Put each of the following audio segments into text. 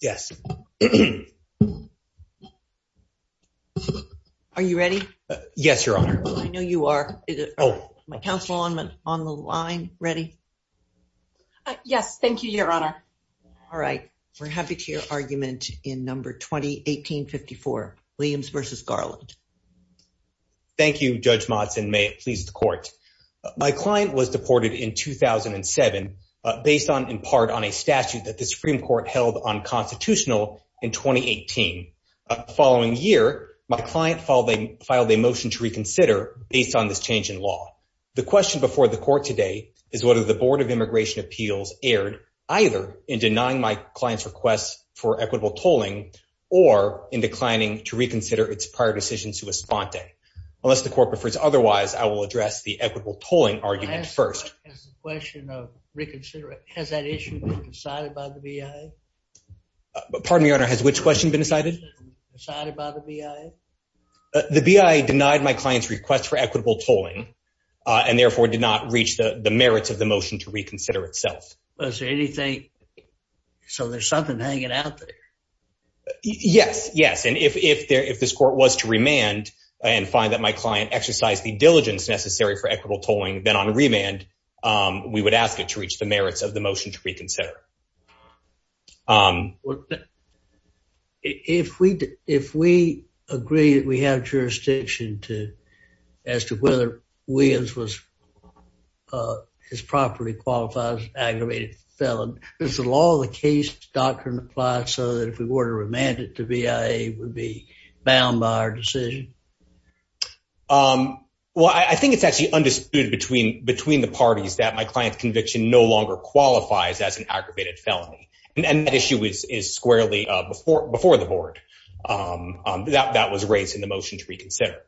yes are you ready yes your honor I know you are oh my council on men on the line ready yes thank you your honor all right we're happy to your argument in number 2018 54 Williams versus Garland Thank You judge Monson may it please the court my client was deported in 2007 based on in part on a statute that the Supreme Court held unconstitutional in 2018 following year my client following filed a motion to reconsider based on this change in law the question before the court today is what are the Board of Immigration Appeals aired either in denying my clients requests for equitable tolling or in declining to reconsider its prior decisions to a sponte unless the court prefers otherwise I will address the equitable tolling argument first question of but pardon your honor has which question been decided the BIA denied my client's request for equitable tolling and therefore did not reach the the merits of the motion to reconsider itself anything so there's something hanging out there yes yes and if if there if this court was to remand and find that my client exercised the diligence necessary for equitable tolling then on merits of the motion to reconsider if we did if we agree that we have jurisdiction to as to whether Williams was his property qualifies aggravated felon there's a law the case doctrine applied so that if we were to remand it to BIA would be bound by our decision well I think it's actually undisputed between between the parties that my client's conviction no longer qualifies as an aggravated felony and that issue is squarely before before the board that that was raised in the motion to reconsider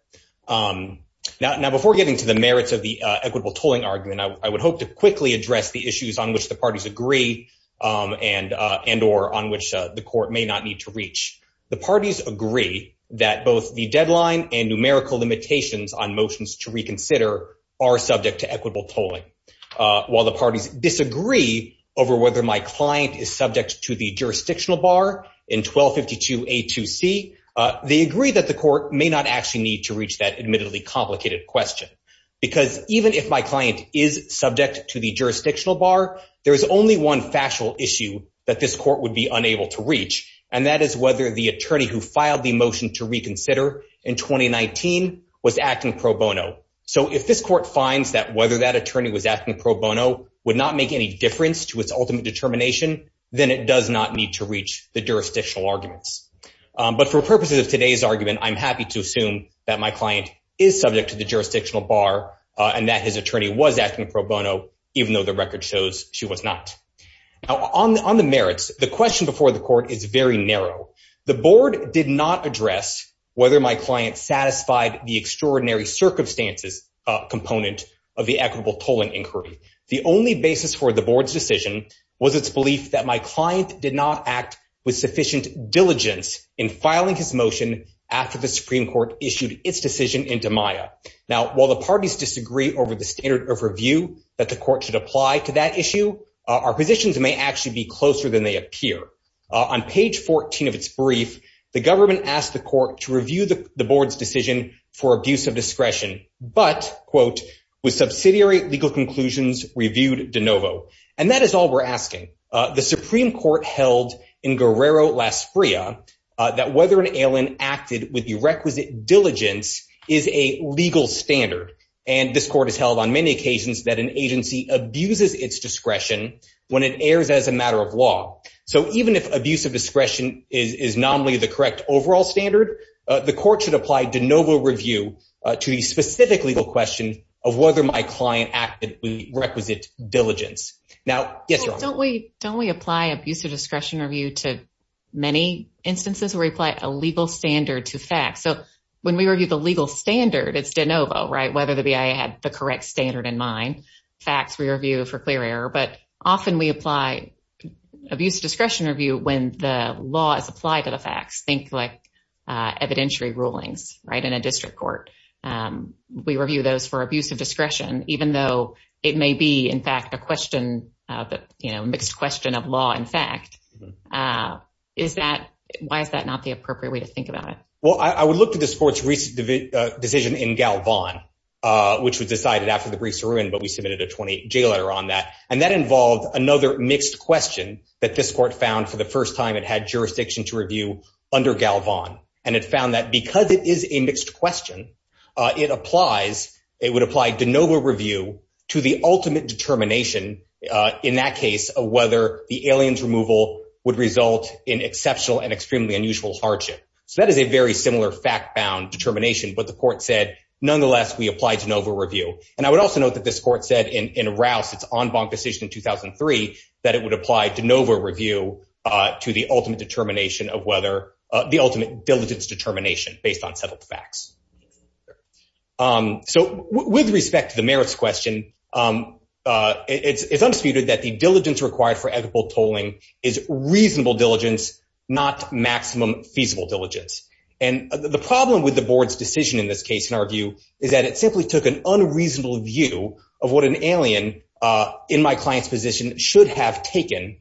now before getting to the merits of the equitable tolling argument I would hope to quickly address the issues on which the parties agree and and or on which the court may not need to reach the parties agree that both the deadline and numerical limitations on subject to equitable tolling while the parties disagree over whether my client is subject to the jurisdictional bar in 1252 a to see they agree that the court may not actually need to reach that admittedly complicated question because even if my client is subject to the jurisdictional bar there is only one factual issue that this court would be unable to reach and that is whether the attorney who filed the motion to reconsider in 2019 was acting pro bono so if this court finds that whether that attorney was acting pro bono would not make any difference to its ultimate determination then it does not need to reach the jurisdictional arguments but for purposes of today's argument I'm happy to assume that my client is subject to the jurisdictional bar and that his attorney was acting pro bono even though the record shows she was not now on the merits the question before the court is very narrow the board did not address whether my client satisfied the extraordinary circumstances component of the equitable tolling inquiry the only basis for the board's decision was its belief that my client did not act with sufficient diligence in filing his motion after the Supreme Court issued its decision into Maya now while the parties disagree over the standard of review that the court should apply to that issue our positions may actually be closer than they appear on page 14 of the government asked the court to review the board's decision for abuse of discretion but quote with subsidiary legal conclusions reviewed de novo and that is all we're asking the Supreme Court held in Guerrero Las Freya that whether an alien acted with the requisite diligence is a legal standard and this court has held on many occasions that an agency abuses its discretion when it airs as a matter of law so even if abuse of discretion is nominally the correct overall standard the court should apply de novo review to the specific legal question of whether my client actively requisite diligence now yes don't we don't we apply abuse of discretion review to many instances where we apply a legal standard to facts so when we review the legal standard it's de novo right whether the BIA had the correct standard in mind facts we review for clear error but often we apply abuse of discretion review when the law is applied to the facts think like evidentiary rulings right in a district court we review those for abuse of discretion even though it may be in fact a question that you know mixed question of law in fact is that why is that not the appropriate way to think about it well I would look to this court's recent decision in Galvan which was decided after the briefs are in but we submitted a 20 J letter on that and that involved another mixed question that this court found for the first time it had jurisdiction to review under Galvan and it found that because it is a mixed question it applies it would apply de novo review to the ultimate determination in that case of whether the aliens removal would result in exceptional and extremely unusual hardship so that is a very similar fact-bound determination but the court said nonetheless we applied to Nova review and I would also note that this to the ultimate determination of whether the ultimate diligence determination based on settled facts so with respect to the merits question it's undisputed that the diligence required for equitable tolling is reasonable diligence not maximum feasible diligence and the problem with the board's decision in this case in our view is that it simply took an unreasonable view of what an alien in my client's position should have taken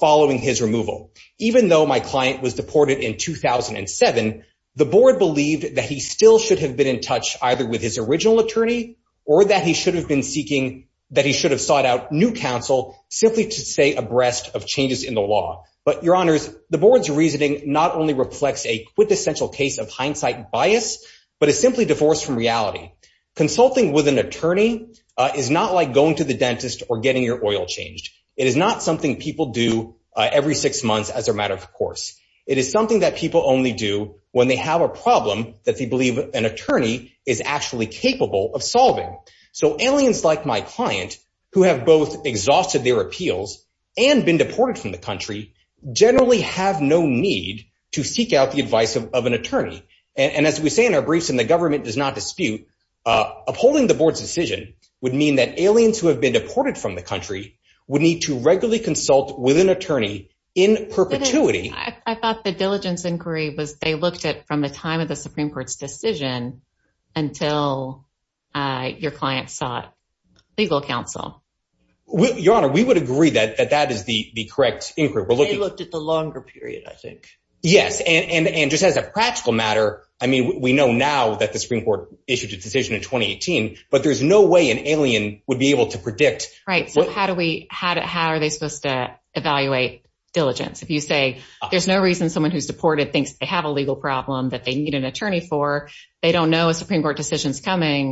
following his removal even though my client was deported in 2007 the board believed that he still should have been in touch either with his original attorney or that he should have been seeking that he should have sought out new counsel simply to stay abreast of changes in the law but your honors the board's reasoning not only reflects a quintessential case of hindsight bias but is simply divorced from reality consulting with an attorney is not like going to the dentist or getting your oil changed it is not something people do every six months as a matter of course it is something that people only do when they have a problem that they believe an attorney is actually capable of solving so aliens like my client who have both exhausted their appeals and been deported from the country generally have no need to seek out the advice of an and as we say in our briefs and the government does not dispute upholding the board's decision would mean that aliens who have been deported from the country would need to regularly consult with an attorney in perpetuity I thought the diligence inquiry was they looked at from the time of the Supreme Court's decision until your client sought legal counsel your honor we would agree that that that is the the correct inquiry we looked at the longer period I think yes and and just as a practical matter I mean we know now that the Supreme Court issued a decision in 2018 but there's no way an alien would be able to predict right how do we had it how are they supposed to evaluate diligence if you say there's no reason someone who's deported thinks they have a legal problem that they need an attorney for they don't know a Supreme Court decisions coming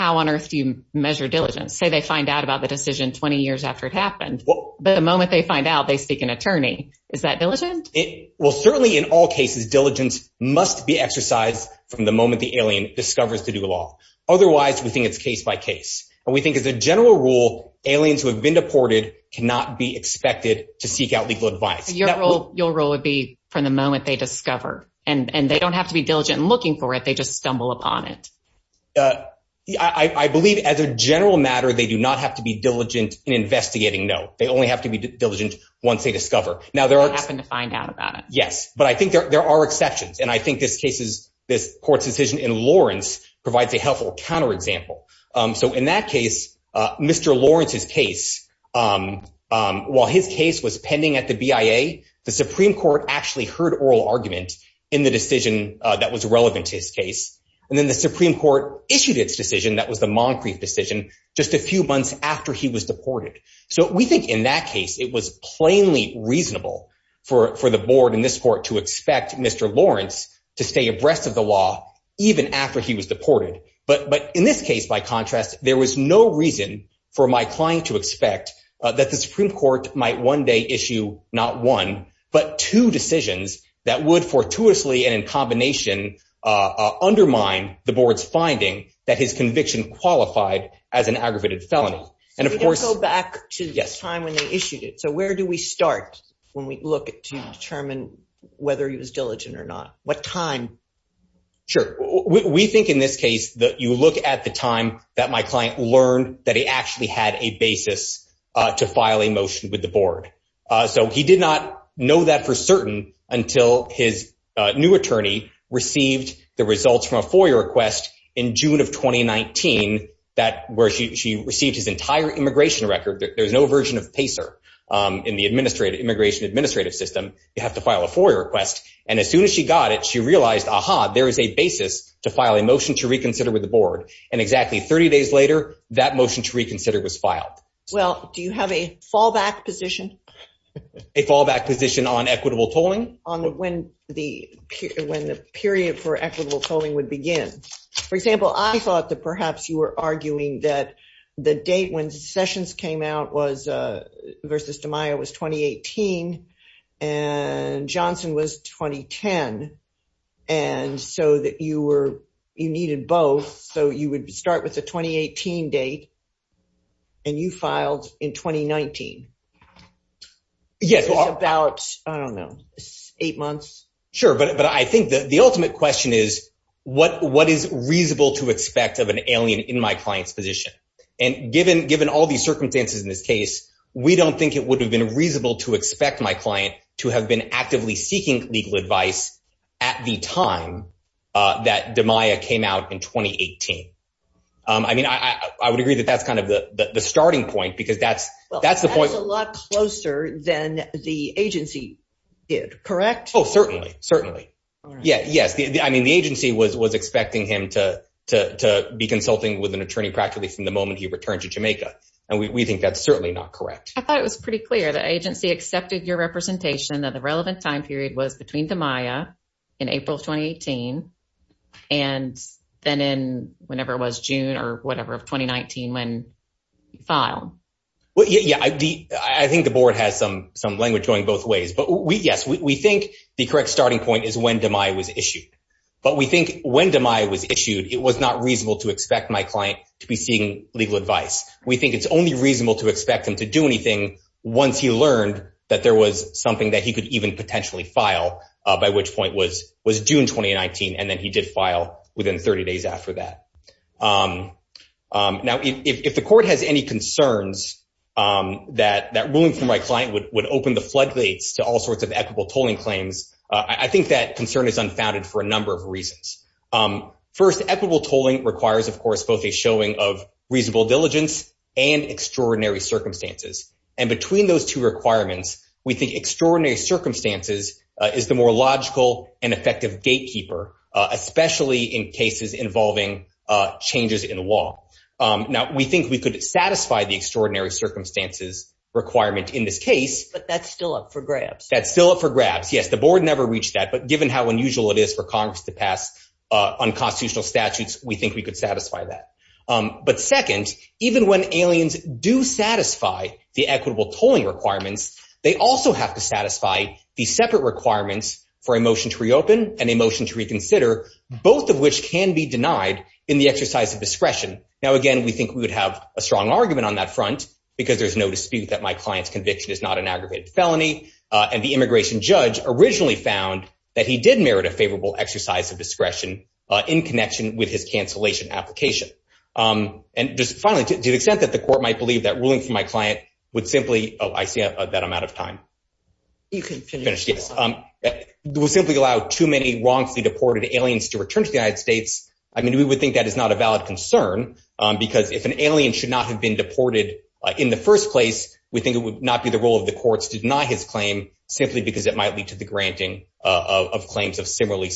how on earth do you measure diligence say they find out about the decision 20 years after it happened but the moment they find out they speak an attorney is that diligent it will certainly in all cases diligence must be exercised from the moment the alien discovers to do a lot otherwise we think it's case-by-case and we think is a general rule aliens who have been deported cannot be expected to seek out legal advice your role your role would be from the moment they discover and and they don't have to be diligent looking for it they just stumble upon it I believe as a general matter they do not have to be diligent in investigating no they only have to be diligent once they discover now there are happen to find out about it yes but I think there are exceptions and I think this case is this court's decision in Lawrence provides a helpful counterexample so in that case mr. Lawrence's case while his case was pending at the BIA the Supreme Court actually heard oral argument in the decision that was relevant to his case and then the Supreme Court issued its that was the Moncrief decision just a few months after he was deported so we think in that case it was plainly reasonable for for the board in this court to expect mr. Lawrence to stay abreast of the law even after he was deported but but in this case by contrast there was no reason for my client to expect that the Supreme Court might one day issue not one but two decisions that would fortuitously and in combination undermine the board's conviction qualified as an aggravated felony and of course go back to this time when they issued it so where do we start when we look at to determine whether he was diligent or not what time sure we think in this case that you look at the time that my client learned that he actually had a basis to file a motion with the board so he did not know that for certain until his new attorney received the results from a FOIA request in June of 2019 that where she received his entire immigration record there's no version of Pacer in the administrative immigration administrative system you have to file a FOIA request and as soon as she got it she realized aha there is a basis to file a motion to reconsider with the board and exactly 30 days later that motion to reconsider was filed well do you have a fallback position a fallback position on equitable tolling on when the when the period for equitable tolling would begin for example I thought that perhaps you were arguing that the date when sessions came out was versus to Maya was 2018 and Johnson was 2010 and so that you were you needed both so you would start with the 2018 date and you in 2019 yes about I don't know eight months sure but but I think that the ultimate question is what what is reasonable to expect of an alien in my client's position and given given all these circumstances in this case we don't think it would have been reasonable to expect my client to have been actively seeking legal advice at the time that the Maya came out in 2018 I mean I would agree that that's kind of the starting point because that's that's the point a lot closer than the agency did correct oh certainly certainly yeah yes I mean the agency was was expecting him to be consulting with an attorney practically from the moment he returned to Jamaica and we think that's certainly not correct I thought it was pretty clear the agency accepted your representation that the relevant time period was between the Maya in April 2018 and then in whenever it was June or whatever of 2019 when file well yeah I think the board has some some language going both ways but we yes we think the correct starting point is when to Maya was issued but we think when to Maya was issued it was not reasonable to expect my client to be seeing legal advice we think it's only reasonable to expect him to do anything once he learned that there was something that he could even potentially file by which point was was June 2019 and then he did file within 30 days after that now if the court has any concerns that that ruling from my client would open the floodgates to all sorts of equitable tolling claims I think that concern is unfounded for a number of reasons first equitable tolling requires of course both a showing of reasonable diligence and extraordinary circumstances and between those two requirements we think extraordinary circumstances is the more logical and effective gatekeeper especially in cases involving changes in law now we think we could satisfy the extraordinary circumstances requirement in this case but that's still up for grabs that's still up for grabs yes the board never reached that but given how unusual it is for Congress to pass on constitutional statutes we think we could satisfy that but second even when aliens do satisfy the equitable tolling requirements they also have to satisfy these separate requirements for a motion to reopen and emotion to reconsider both of which can be denied in the exercise of discretion now again we think we would have a strong argument on that front because there's no dispute that my client's conviction is not an aggravated felony and the immigration judge originally found that he did merit a favorable exercise of discretion in connection with his cancellation application and just finally to the extent that the court might believe that ruling from my client would simply oh I see that I'm out of time you can finish this um we'll simply allow too many wrongfully deported aliens to return to the United States I mean we would think that is not a valid concern because if an alien should not have been deported in the first place we think it would not be the role of the courts to deny his claim simply because it might lead to the granting of claims of similarly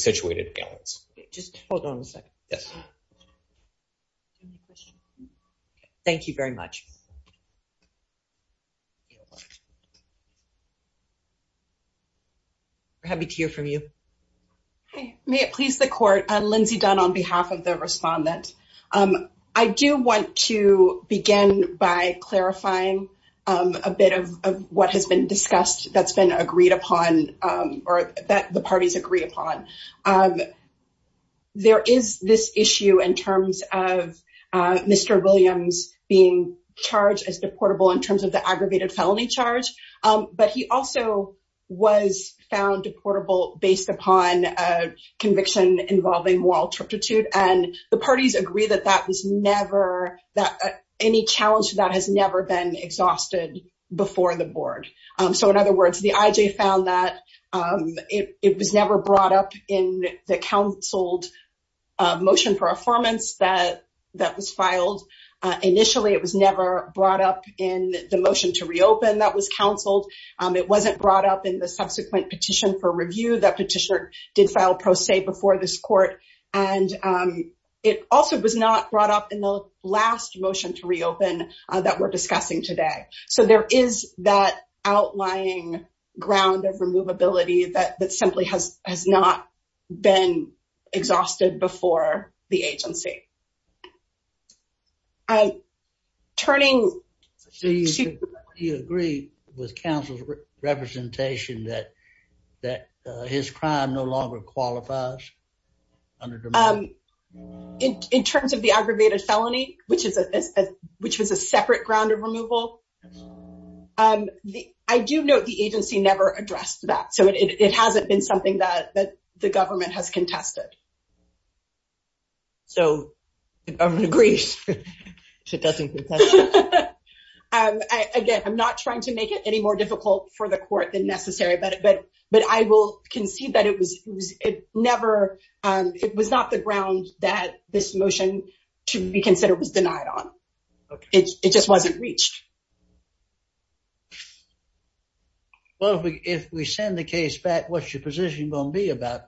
happy to hear from you hey may it please the court and Lindsay done on behalf of the respondent I do want to begin by clarifying a bit of what has been discussed that's been agreed upon or that the parties agree upon there is this issue in terms of mr. Williams being charged as deportable in terms of the aggravated felony charge but he also was found deportable based upon a conviction involving moral turpitude and the parties agree that that was never that any challenge that has never been exhausted before the board so in other words the IJ found that it was never brought up in the counseled motion for reopen that was counseled it wasn't brought up in the subsequent petition for review that petitioner did file pro se before this court and it also was not brought up in the last motion to reopen that we're discussing today so there is that outlying ground of removability that simply has has not been exhausted before the agency I turning you agree with counsel's representation that that his crime no longer qualifies in terms of the aggravated felony which is a which was a separate ground of removal I do note the agency never addressed that it hasn't been something that the government has contested so I'm not trying to make it any more difficult for the court than necessary but but but I will concede that it was it never it was not the ground that this motion to be back what's your position gonna be about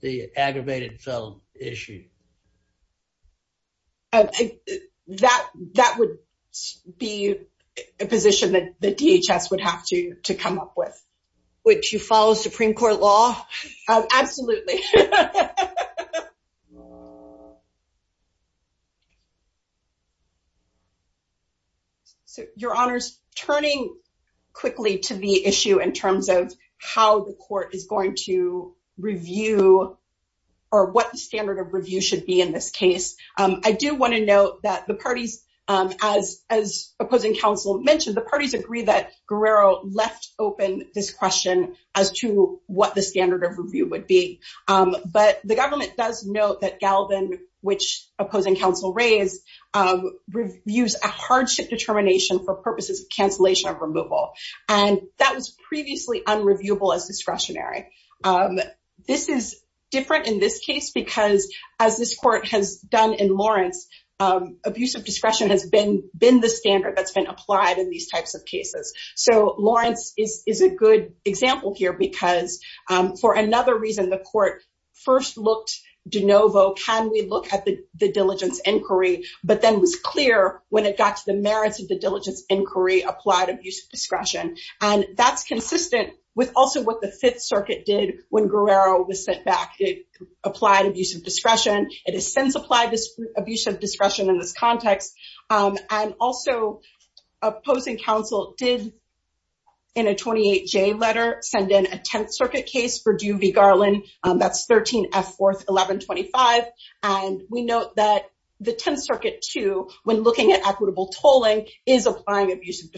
the aggravated felon issue that that would be a position that the DHS would have to to come up with which you follow Supreme Court law absolutely so your honors turning quickly to the issue in going to review or what standard of review should be in this case I do want to note that the parties as as opposing counsel mentioned the parties agree that Guerrero left open this question as to what the standard of review would be but the government does note that Galvin which opposing counsel raised reviews a hardship determination for purposes of cancellation of removal and that was previously unreviewable as discretionary this is different in this case because as this court has done in Lawrence abuse of discretion has been been the standard that's been applied in these types of cases so Lawrence is is a good example here because for another reason the court first looked de novo can we look at the diligence inquiry but then was clear when it got to the merits of the diligence inquiry applied abuse of discretion and that's consistent with also what the Fifth Circuit did when Guerrero was sent back it applied abuse of discretion it is since applied this abuse of discretion in this context and also opposing counsel did in a 28 J letter send in a Tenth Circuit case for do be Garland that's 13 f 4th 1125 and we note that the Tenth Circuit to when looking at equitable tolling is applying abuse of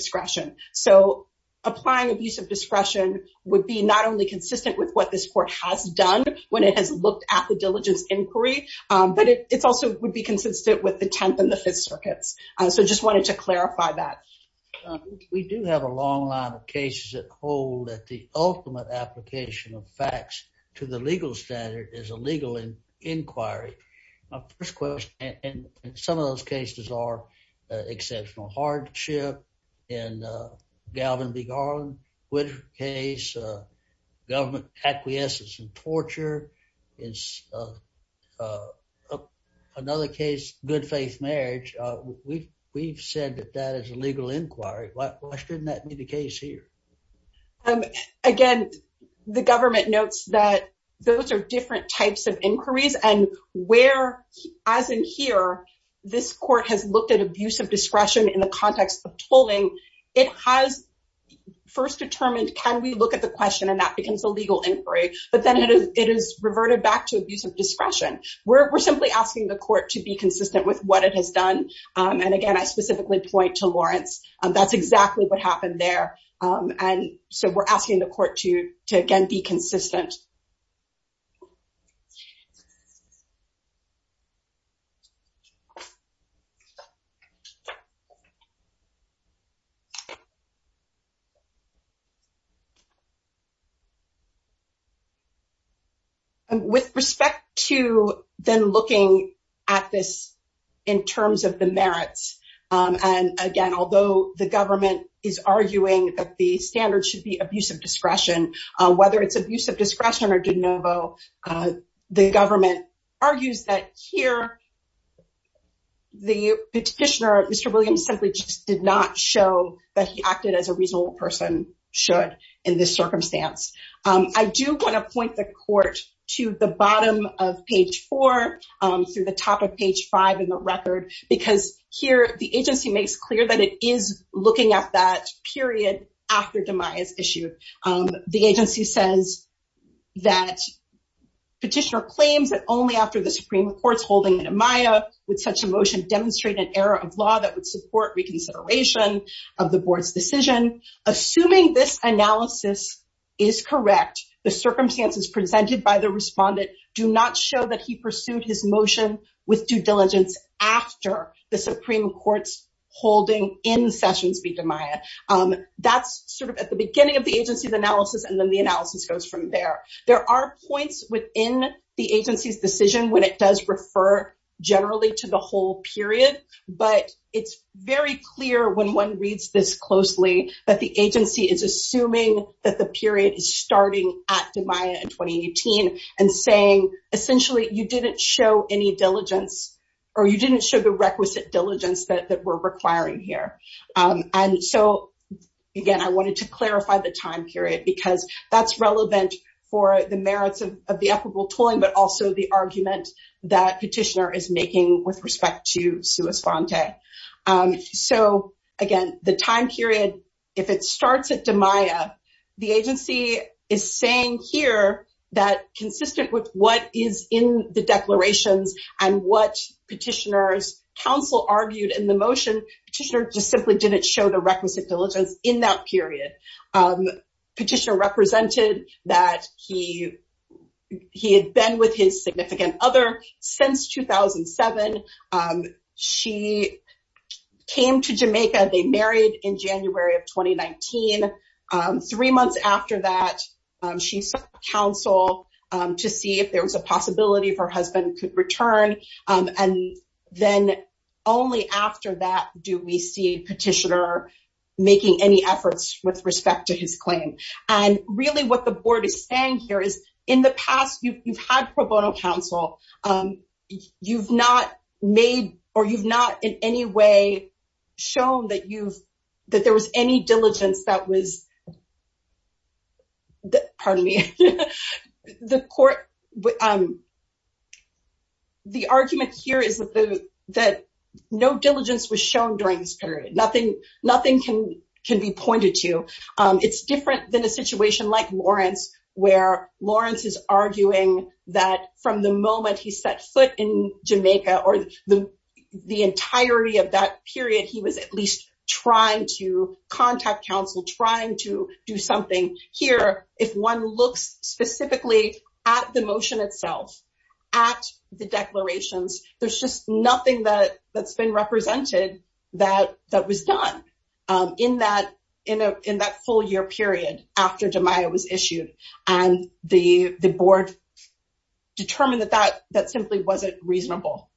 discretion would be not only consistent with what this court has done when it has looked at the diligence inquiry but it's also would be consistent with the Tenth and the Fifth Circuits so just wanted to clarify that we do have a long line of cases that hold that the ultimate application of facts to the legal standard is a legal inquiry first question and some of those cases are exceptional hardship and Galvin be gone which case government acquiescence and torture is another case good faith marriage we we've said that that is a legal inquiry why shouldn't that be the case here again the government notes that those are different types of inquiries and where as in here this court has looked at abuse of discretion in the context of tolling it has first determined can we look at the question and that becomes a legal inquiry but then it is it is reverted back to use of discretion where we're simply asking the court to be consistent with what it has done and again I specifically point to Lawrence and that's exactly what happened there and so we're asking the and with respect to then looking at this in terms of the merits and again although the government is arguing that the standard should be abuse of discretion whether it's abuse of discretion or de novo the government argues that here the petitioner mr. Williams simply just did not show that he acted as a reasonable person should in this circumstance I do want to point the court to the bottom of page four through the top of page five in the record because here the agency makes clear that it is looking at that period after demise issue the agency says that petitioner claims that only after the Supreme Court's holding in a Maya with such a motion demonstrate an error of law that would support reconsideration of the board's decision assuming this analysis is correct the circumstances presented by the respondent do not show that he pursued his motion with due diligence after the beginning of the agency's analysis and then the analysis goes from there there are points within the agency's decision when it does refer generally to the whole period but it's very clear when one reads this closely that the agency is assuming that the period is starting at the Maya in 2018 and saying essentially you didn't show any diligence or you didn't show the I wanted to clarify the time period because that's relevant for the merits of the equitable tolling but also the argument that petitioner is making with respect to sue Esfante so again the time period if it starts at the Maya the agency is saying here that consistent with what is in the declarations and what petitioners counsel argued in the motion petitioner just simply didn't show the requisite diligence in that period petitioner represented that he he had been with his significant other since 2007 she came to Jamaica they married in January of 2019 three months after that she's counsel to see if there was a possibility for husband could return and then only after that do we see petitioner making any efforts with respect to his claim and really what the board is saying here is in the past you've had pro bono counsel you've not made or you've not in any way shown that you've that there was any diligence that was that pardon me the court but um the argument here is that the that no was shown during this period nothing nothing can can be pointed to it's different than a situation like Lawrence where Lawrence is arguing that from the moment he set foot in Jamaica or the the entirety of that period he was at least trying to contact counsel trying to do something here if one looks specifically at the motion itself at the declarations there's just nothing that that's been represented that that was done in that in a in that full year period after Jemima was issued and the the board determined that that that simply wasn't reasonable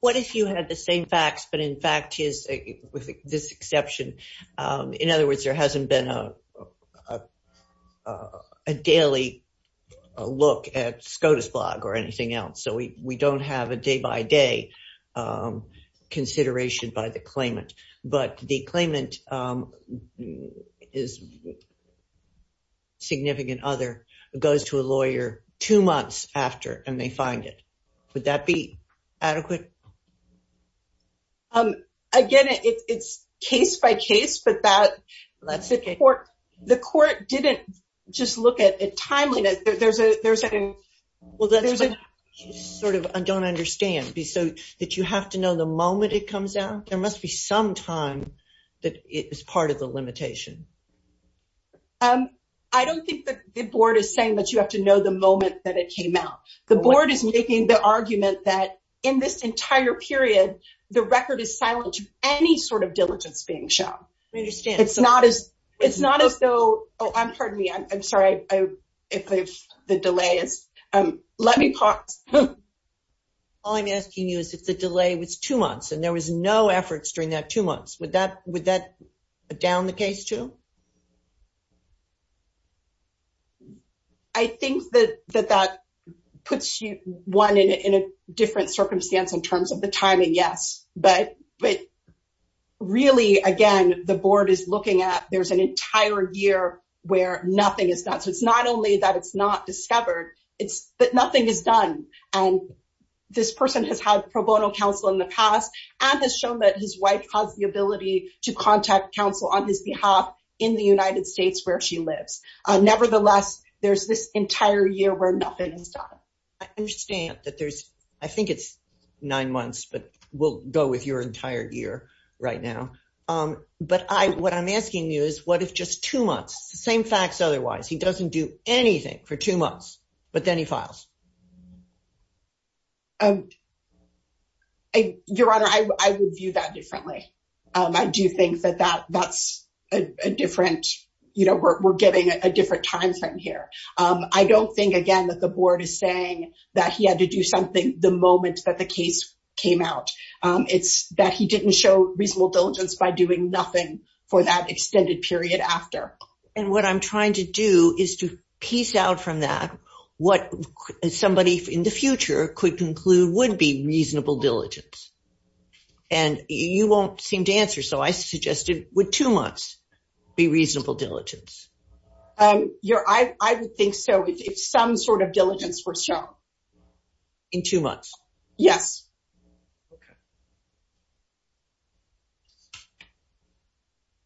what if you had the same facts but in fact is with this exception in other words there hasn't been a daily look at SCOTUS blog or anything else so we don't have a day-by-day consideration by the claimant but the claimant is significant other goes to a lawyer two months after and they find it would that be adequate um again it's case by case but that that's okay or the just look at it timely that there's a there's a well there's a sort of I don't understand be so that you have to know the moment it comes out there must be some time that it is part of the limitation I don't think the board is saying that you have to know the moment that it came out the board is making the argument that in this entire period the record is silent any sort of diligence being shown I understand it's not as it's not as though oh I'm pardon me I'm sorry if the delay is um let me pause I'm asking you is if the delay was two months and there was no efforts during that two months with that with that down the case to I think that that that puts you one in a different circumstance in timing yes but but really again the board is looking at there's an entire year where nothing is done so it's not only that it's not discovered it's that nothing is done and this person has had pro bono counsel in the past and has shown that his wife has the ability to contact counsel on his behalf in the United States where she lives nevertheless there's this entire year I understand that there's I think it's nine months but we'll go with your entire year right now but I what I'm asking you is what if just two months same facts otherwise he doesn't do anything for two months but then he files your honor I would view that differently I do think that that that's a different you know we're getting a different time frame here I don't think again that the board is saying that he had to do something the moment that the case came out it's that he didn't show reasonable diligence by doing nothing for that extended period after and what I'm trying to do is to piece out from that what somebody in the future could conclude would be reasonable diligence and you won't seem to answer so I suggested with two months be reasonable diligence um you're I would think so if some sort of diligence for show in two months yes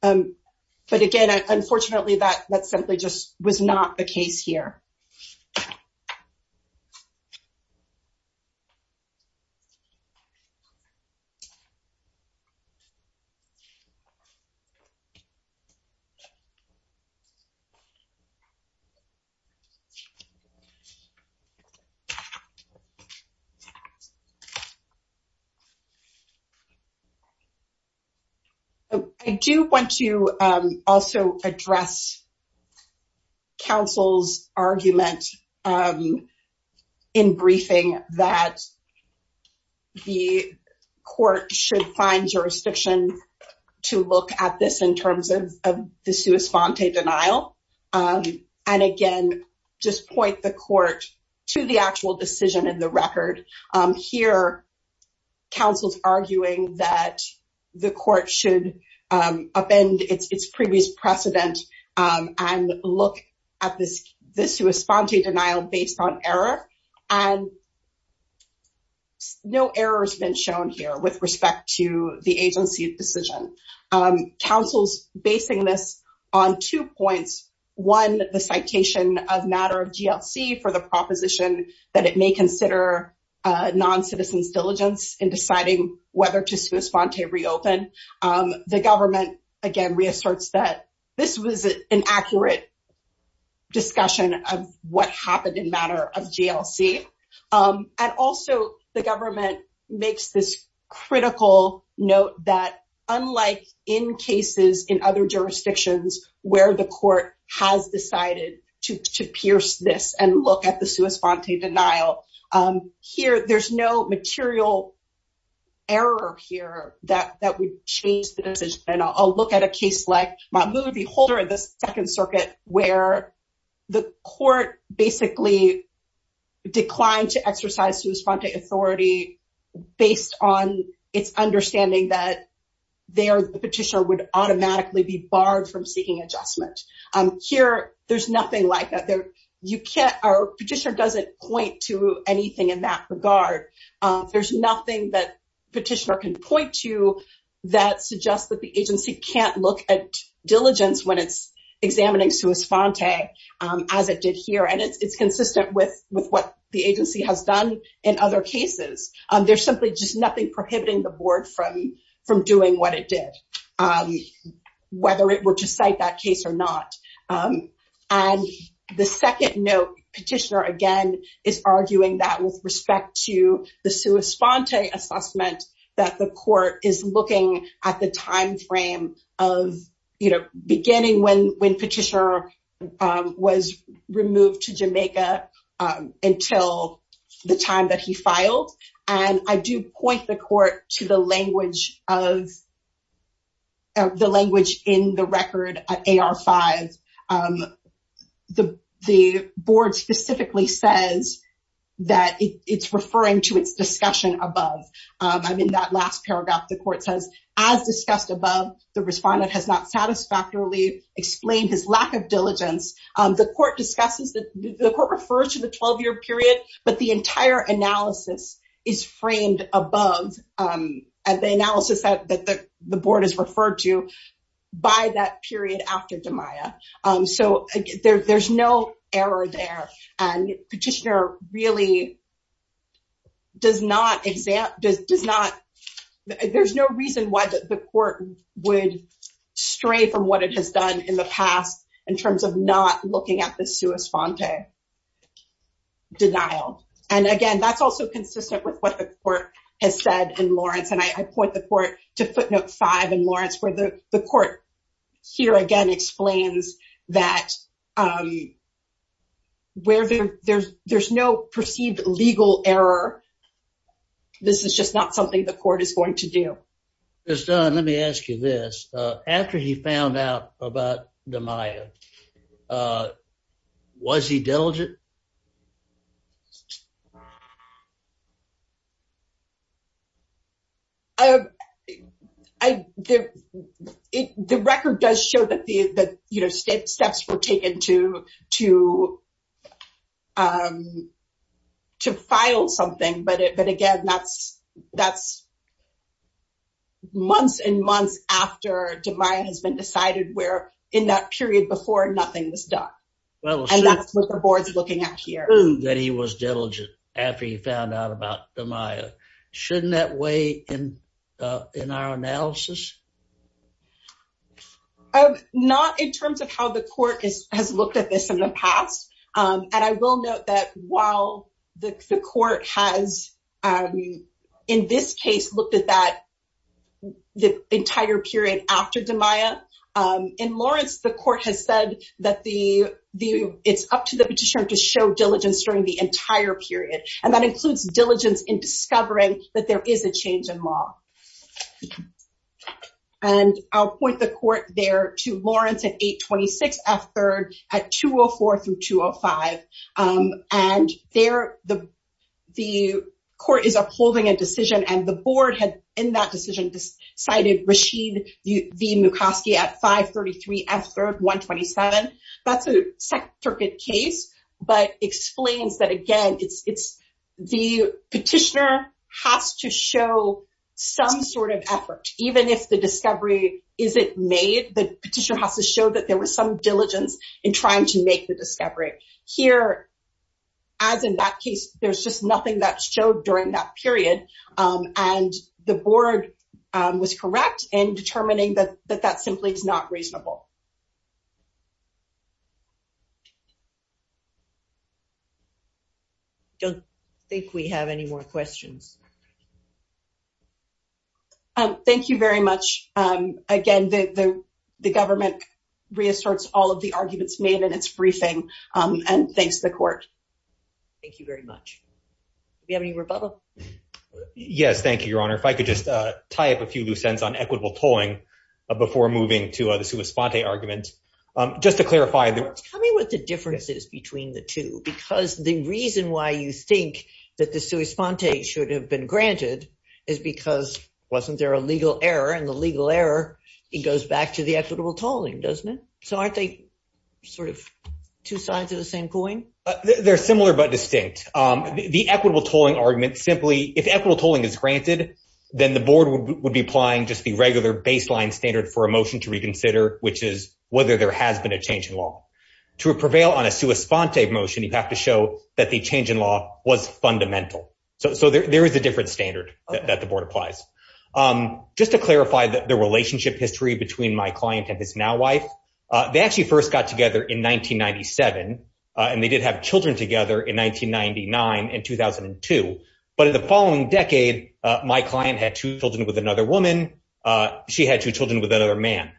but again unfortunately that that simply just was not the case here I do want to also address counsel's argument in briefing that the court should find jurisdiction to look at this in terms of the sua sponte denial and again just point the court to the actual decision in the record here counsel's arguing that the court should upend its previous precedent and look at this this who is sponte denial based on error and no errors been shown here with respect to the agency's decision counsel's basing this on two points one the citation of matter of GLC for the proposition that it may consider non-citizens diligence in deciding whether to sue a sponte reopen the government again reasserts that this was an accurate discussion of what happened in matter of GLC and also the government makes this critical note that unlike in cases in other jurisdictions where the court has decided to pierce this and look at the sua sponte denial here there's no material error here that that would change the decision I'll look at a case like my movie holder in the declined to exercise whose front a authority based on its understanding that there the petitioner would automatically be barred from seeking adjustment here there's nothing like that there you can't our petitioner doesn't point to anything in that regard there's nothing that petitioner can point to that suggests that the agency can't look at diligence when it's as it did here and it's consistent with with what the agency has done in other cases there's simply just nothing prohibiting the board from from doing what it did whether it were to cite that case or not and the second note petitioner again is arguing that with respect to the sua sponte assessment that the court is looking at the time frame of you know beginning when when petitioner was removed to Jamaica until the time that he filed and I do point the court to the language of the language in the record at AR 5 the the board specifically says that it's referring to its discussion above I'm in that last paragraph the court says as discussed above the respondent has not satisfactorily explained his lack of diligence the court discusses that the court refers to the 12-year period but the entire analysis is framed above and the analysis that the board is referred to by that period after demaya so there's no error there and petitioner really does not exam does not there's no reason why that the court would stray from what it has done in the past in terms of not looking at the sua sponte denial and again that's also consistent with what the court has said in Lawrence and I point the court to footnote 5 in Lawrence where the the court here again explains that where there's there's no perceived legal error this is just not something the court is going to do it's done let me ask you this after he found out about the Maya was he diligent I the it the record does show that the that you know steps were taken to to to file something but it but again that's that's months and months after demaya has been decided where in that period before nothing was done well and that's what the board's looking at here that he was diligent after he found out about the shouldn't that way in in our analysis not in terms of how the court is has looked at this in the past and I will note that while the court has in this case looked at that the entire period after demaya in Lawrence the court has said that the view it's up to the petitioner to show diligence during the discovery that there is a change in law and I'll point the court there to Lawrence at 826 f-3rd at 204 through 205 and there the the court is upholding a decision and the board had in that decision decided Rashid the mucoskey at 533 f-3rd 127 that's a circuit case but explains that again it's it's the petitioner has to show some sort of effort even if the discovery is it made the petitioner has to show that there was some diligence in trying to make the discovery here as in that case there's just nothing that showed during that period and the board was correct in determining that that that simply is not don't think we have any more questions thank you very much again the the government reasserts all of the arguments made in its briefing and thanks the court thank you very much we have any rebuttal yes thank you your honor if I could just tie up a few loose ends on equitable tolling before moving to the sua sponte argument just to clarify tell me what the difference is between the two because the reason why you think that the sua sponte should have been granted is because wasn't there a legal error and the legal error it goes back to the equitable tolling doesn't it so aren't they sort of two sides of the same coin they're similar but distinct the equitable tolling argument simply if equitable tolling is granted then the board would be applying just the regular baseline standard for a change in law to prevail on a sua sponte motion you have to show that the change in law was fundamental so there is a different standard that the board applies just to clarify that the relationship history between my client and his now wife they actually first got together in 1997 and they did have children together in 1999 in 2002 but in the following decade my client had two children with another woman she had two children with another man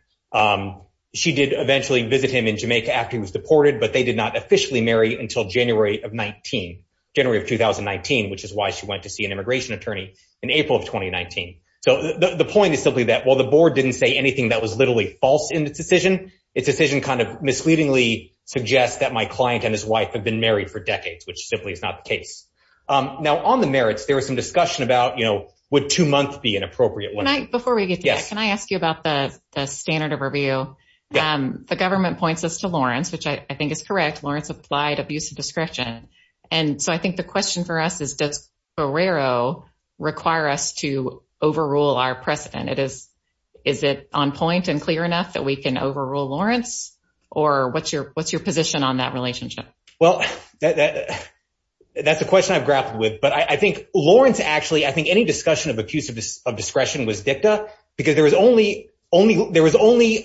she did eventually visit him in Jamaica after he was deported but they did not officially marry until January of 19 January of 2019 which is why she went to see an immigration attorney in April of 2019 so the point is simply that while the board didn't say anything that was literally false in the decision it's a decision kind of misleadingly suggests that my client and his wife have been married for decades which simply is not the case now on the merits there was some discussion about you know would two months be an appropriate one night before we get yes can I ask you about the standard of review the government points us to Lawrence which I think is correct Lawrence applied abuse of discretion and so I think the question for us is does Barrero require us to overrule our precedent it is is it on point and clear enough that we can overrule Lawrence or what's your what's your position on that relationship well that's a question I've grappled with but I think Lawrence actually I think any because there was only only there was only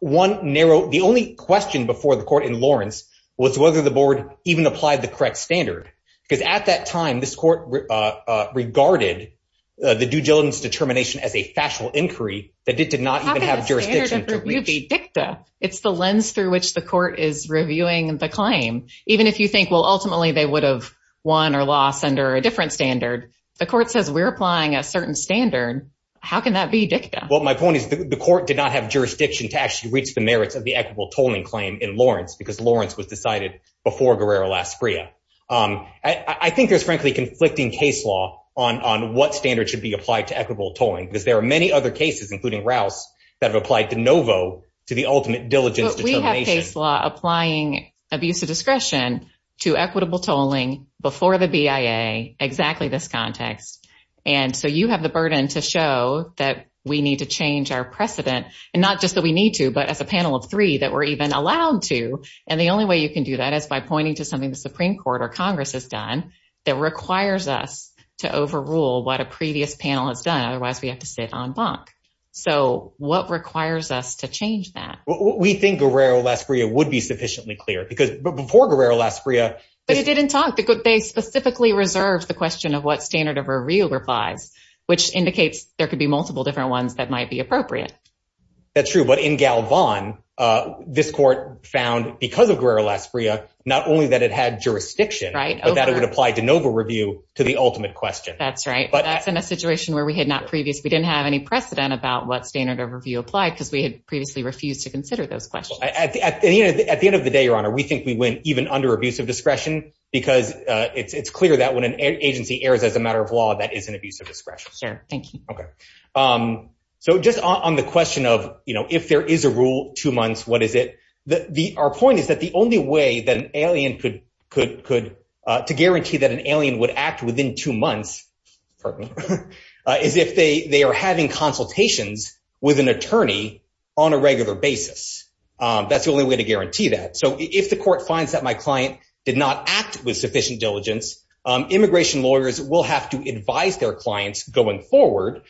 one narrow the only question before the court in Lawrence was whether the board even applied the correct standard because at that time this court regarded the due diligence determination as a factual inquiry that it did not have jurisdiction to be dicta it's the lens through which the court is reviewing and the claim even if you think well ultimately they would have won or loss under a different standard the court says we're applying a certain standard how can that be dicta well my point is the court did not have jurisdiction to actually reach the merits of the equitable tolling claim in Lawrence because Lawrence was decided before Guerrero Las Priya I think there's frankly conflicting case law on on what standard should be applied to equitable tolling because there are many other cases including Rouse that have applied to Novo to the ultimate diligence determination applying abuse of discretion to equitable tolling before the BIA exactly this context and so you have the burden to show that we need to change our precedent and not just that we need to but as a panel of three that we're even allowed to and the only way you can do that is by pointing to something the Supreme Court or Congress has done that requires us to overrule what a previous panel has done otherwise we have to sit on bunk so what requires us to change that we think Guerrero Las Priya would be sufficiently clear because before Guerrero Las Priya but it didn't talk that good they specifically reserved the question of what standard of a real replies which indicates there could be multiple different ones that might be appropriate that's true but in Galvan this court found because of Guerrero Las Priya not only that it had jurisdiction right that it would apply to Novo review to the ultimate question that's right but that's in a situation where we had not previous we didn't have any precedent about what standard of review applied because we had previously refused to consider those questions at the end of the day your honor we think we went even under abuse of discretion because it's clear that when an agency airs as a matter of law that is an abuse of discretion sir thank you okay so just on the question of you know if there is a rule two months what is it the our point is that the only way that an alien could could could to guarantee that an alien would act within two months is if they they are having consultations with an attorney on a regular basis that's the way to guarantee that so if the court finds that my client did not act with sufficient diligence immigration lawyers will have to advise their clients going forward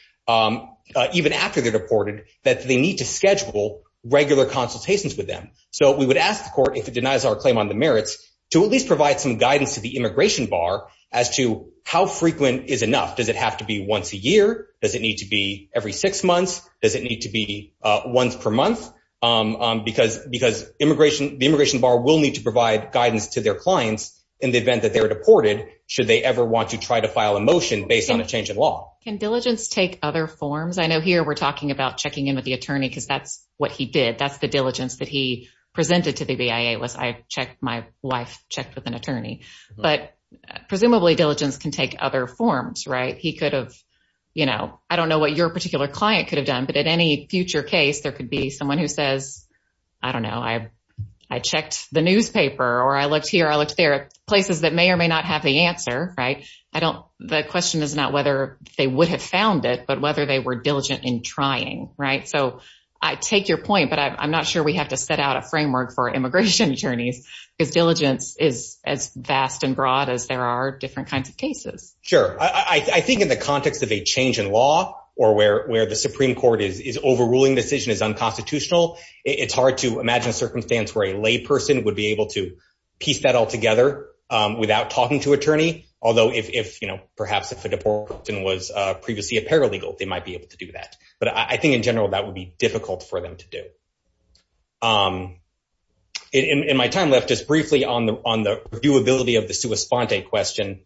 even after they're deported that they need to schedule regular consultations with them so we would ask the court if it denies our claim on the merits to at least provide some guidance to the immigration bar as to how frequent is enough does it have to be once a year does it need to be every immigration the immigration bar will need to provide guidance to their clients in the event that they're deported should they ever want to try to file a motion based on a change in law can diligence take other forms I know here we're talking about checking in with the attorney because that's what he did that's the diligence that he presented to the BIA was I checked my wife checked with an attorney but presumably diligence can take other forms right he could have you know I don't know what your particular client could have done but at any future case there could be someone who says I don't know I I checked the newspaper or I looked here I looked there places that may or may not have the answer right I don't the question is not whether they would have found it but whether they were diligent in trying right so I take your point but I'm not sure we have to set out a framework for immigration attorneys because diligence is as vast and broad as there are different kinds of cases sure I think in the context of a change in law or where where the Supreme Court is is overruling decision is unconstitutional it's hard to imagine circumstance where a layperson would be able to piece that all together without talking to attorney although if you know perhaps if a deportation was previously a paralegal they might be able to do that but I think in general that would be difficult for them to do in my time left just briefly on the on the viewability of the sua sponte question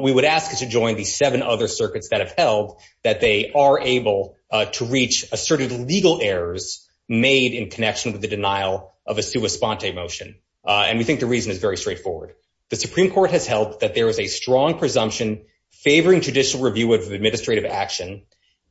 we would ask you to join these seven other circuits that have held that they are able to reach asserted legal errors made in connection with the denial of a sua sponte motion and we think the reason is very straightforward the Supreme Court has held that there is a strong presumption favoring judicial review of administrative action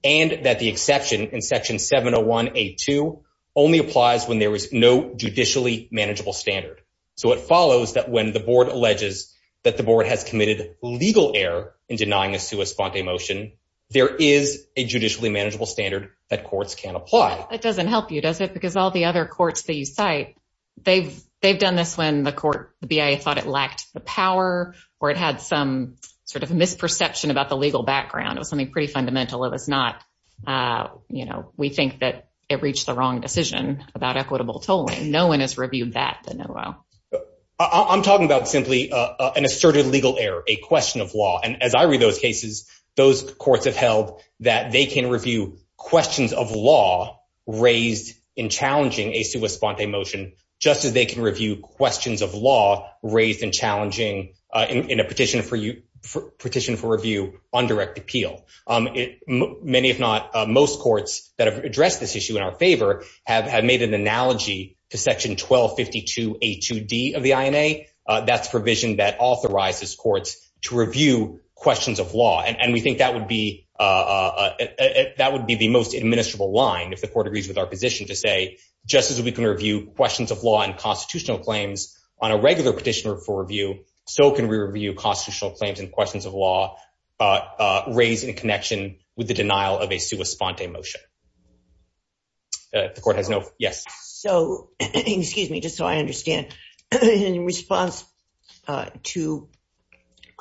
and that the exception in section 701 a2 only applies when there was no judicially manageable standard so it follows that when the board alleges that the board has committed legal error in denying a sua sponte motion there is a judicially manageable standard that courts can apply it doesn't help you does it because all the other courts that you cite they've they've done this when the court the BIA thought it lacked the power or it had some sort of misperception about the legal background it was something pretty fundamental it was not you know we think that it reached the wrong decision about equitable tolling no one has reviewed that the know-how I'm talking about simply an asserted legal error a question of law and as I read those cases those courts have held that they can review questions of law raised in challenging a sua sponte motion just as they can review questions of law raised in challenging in a petition for you petition for review on direct appeal it many if not most courts that have addressed this issue in our favor have made an analogy to section 1252 a 2d of the INA that's provision that authorizes courts to review questions of law and we think that would be that would be the most administrable line if the court agrees with our position to say just as we can review questions of law and constitutional claims on a regular petitioner for review so can we review constitutional claims and questions of law raised in connection with the denial of a sua sponte motion the court has no yes so excuse me just so I understand in response to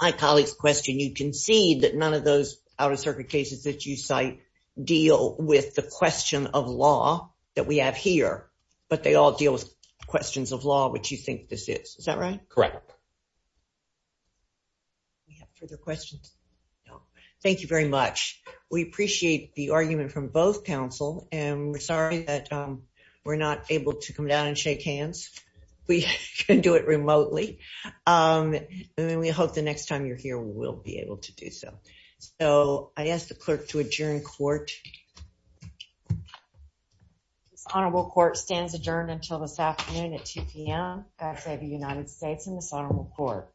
my colleagues question you concede that none of those out-of-circuit cases that you cite deal with the question of law that we have here but they all deal with questions of law which you think this is is that right correct we have further questions thank you very much we appreciate the argument from both counsel and we're sorry that we're not able to come down and shake hands we can do it remotely and then we hope the next time you're here we'll be able to do so so I asked the clerk to adjourn court honorable court stands adjourned until this afternoon at 2 p.m. I say the United States in this honorable court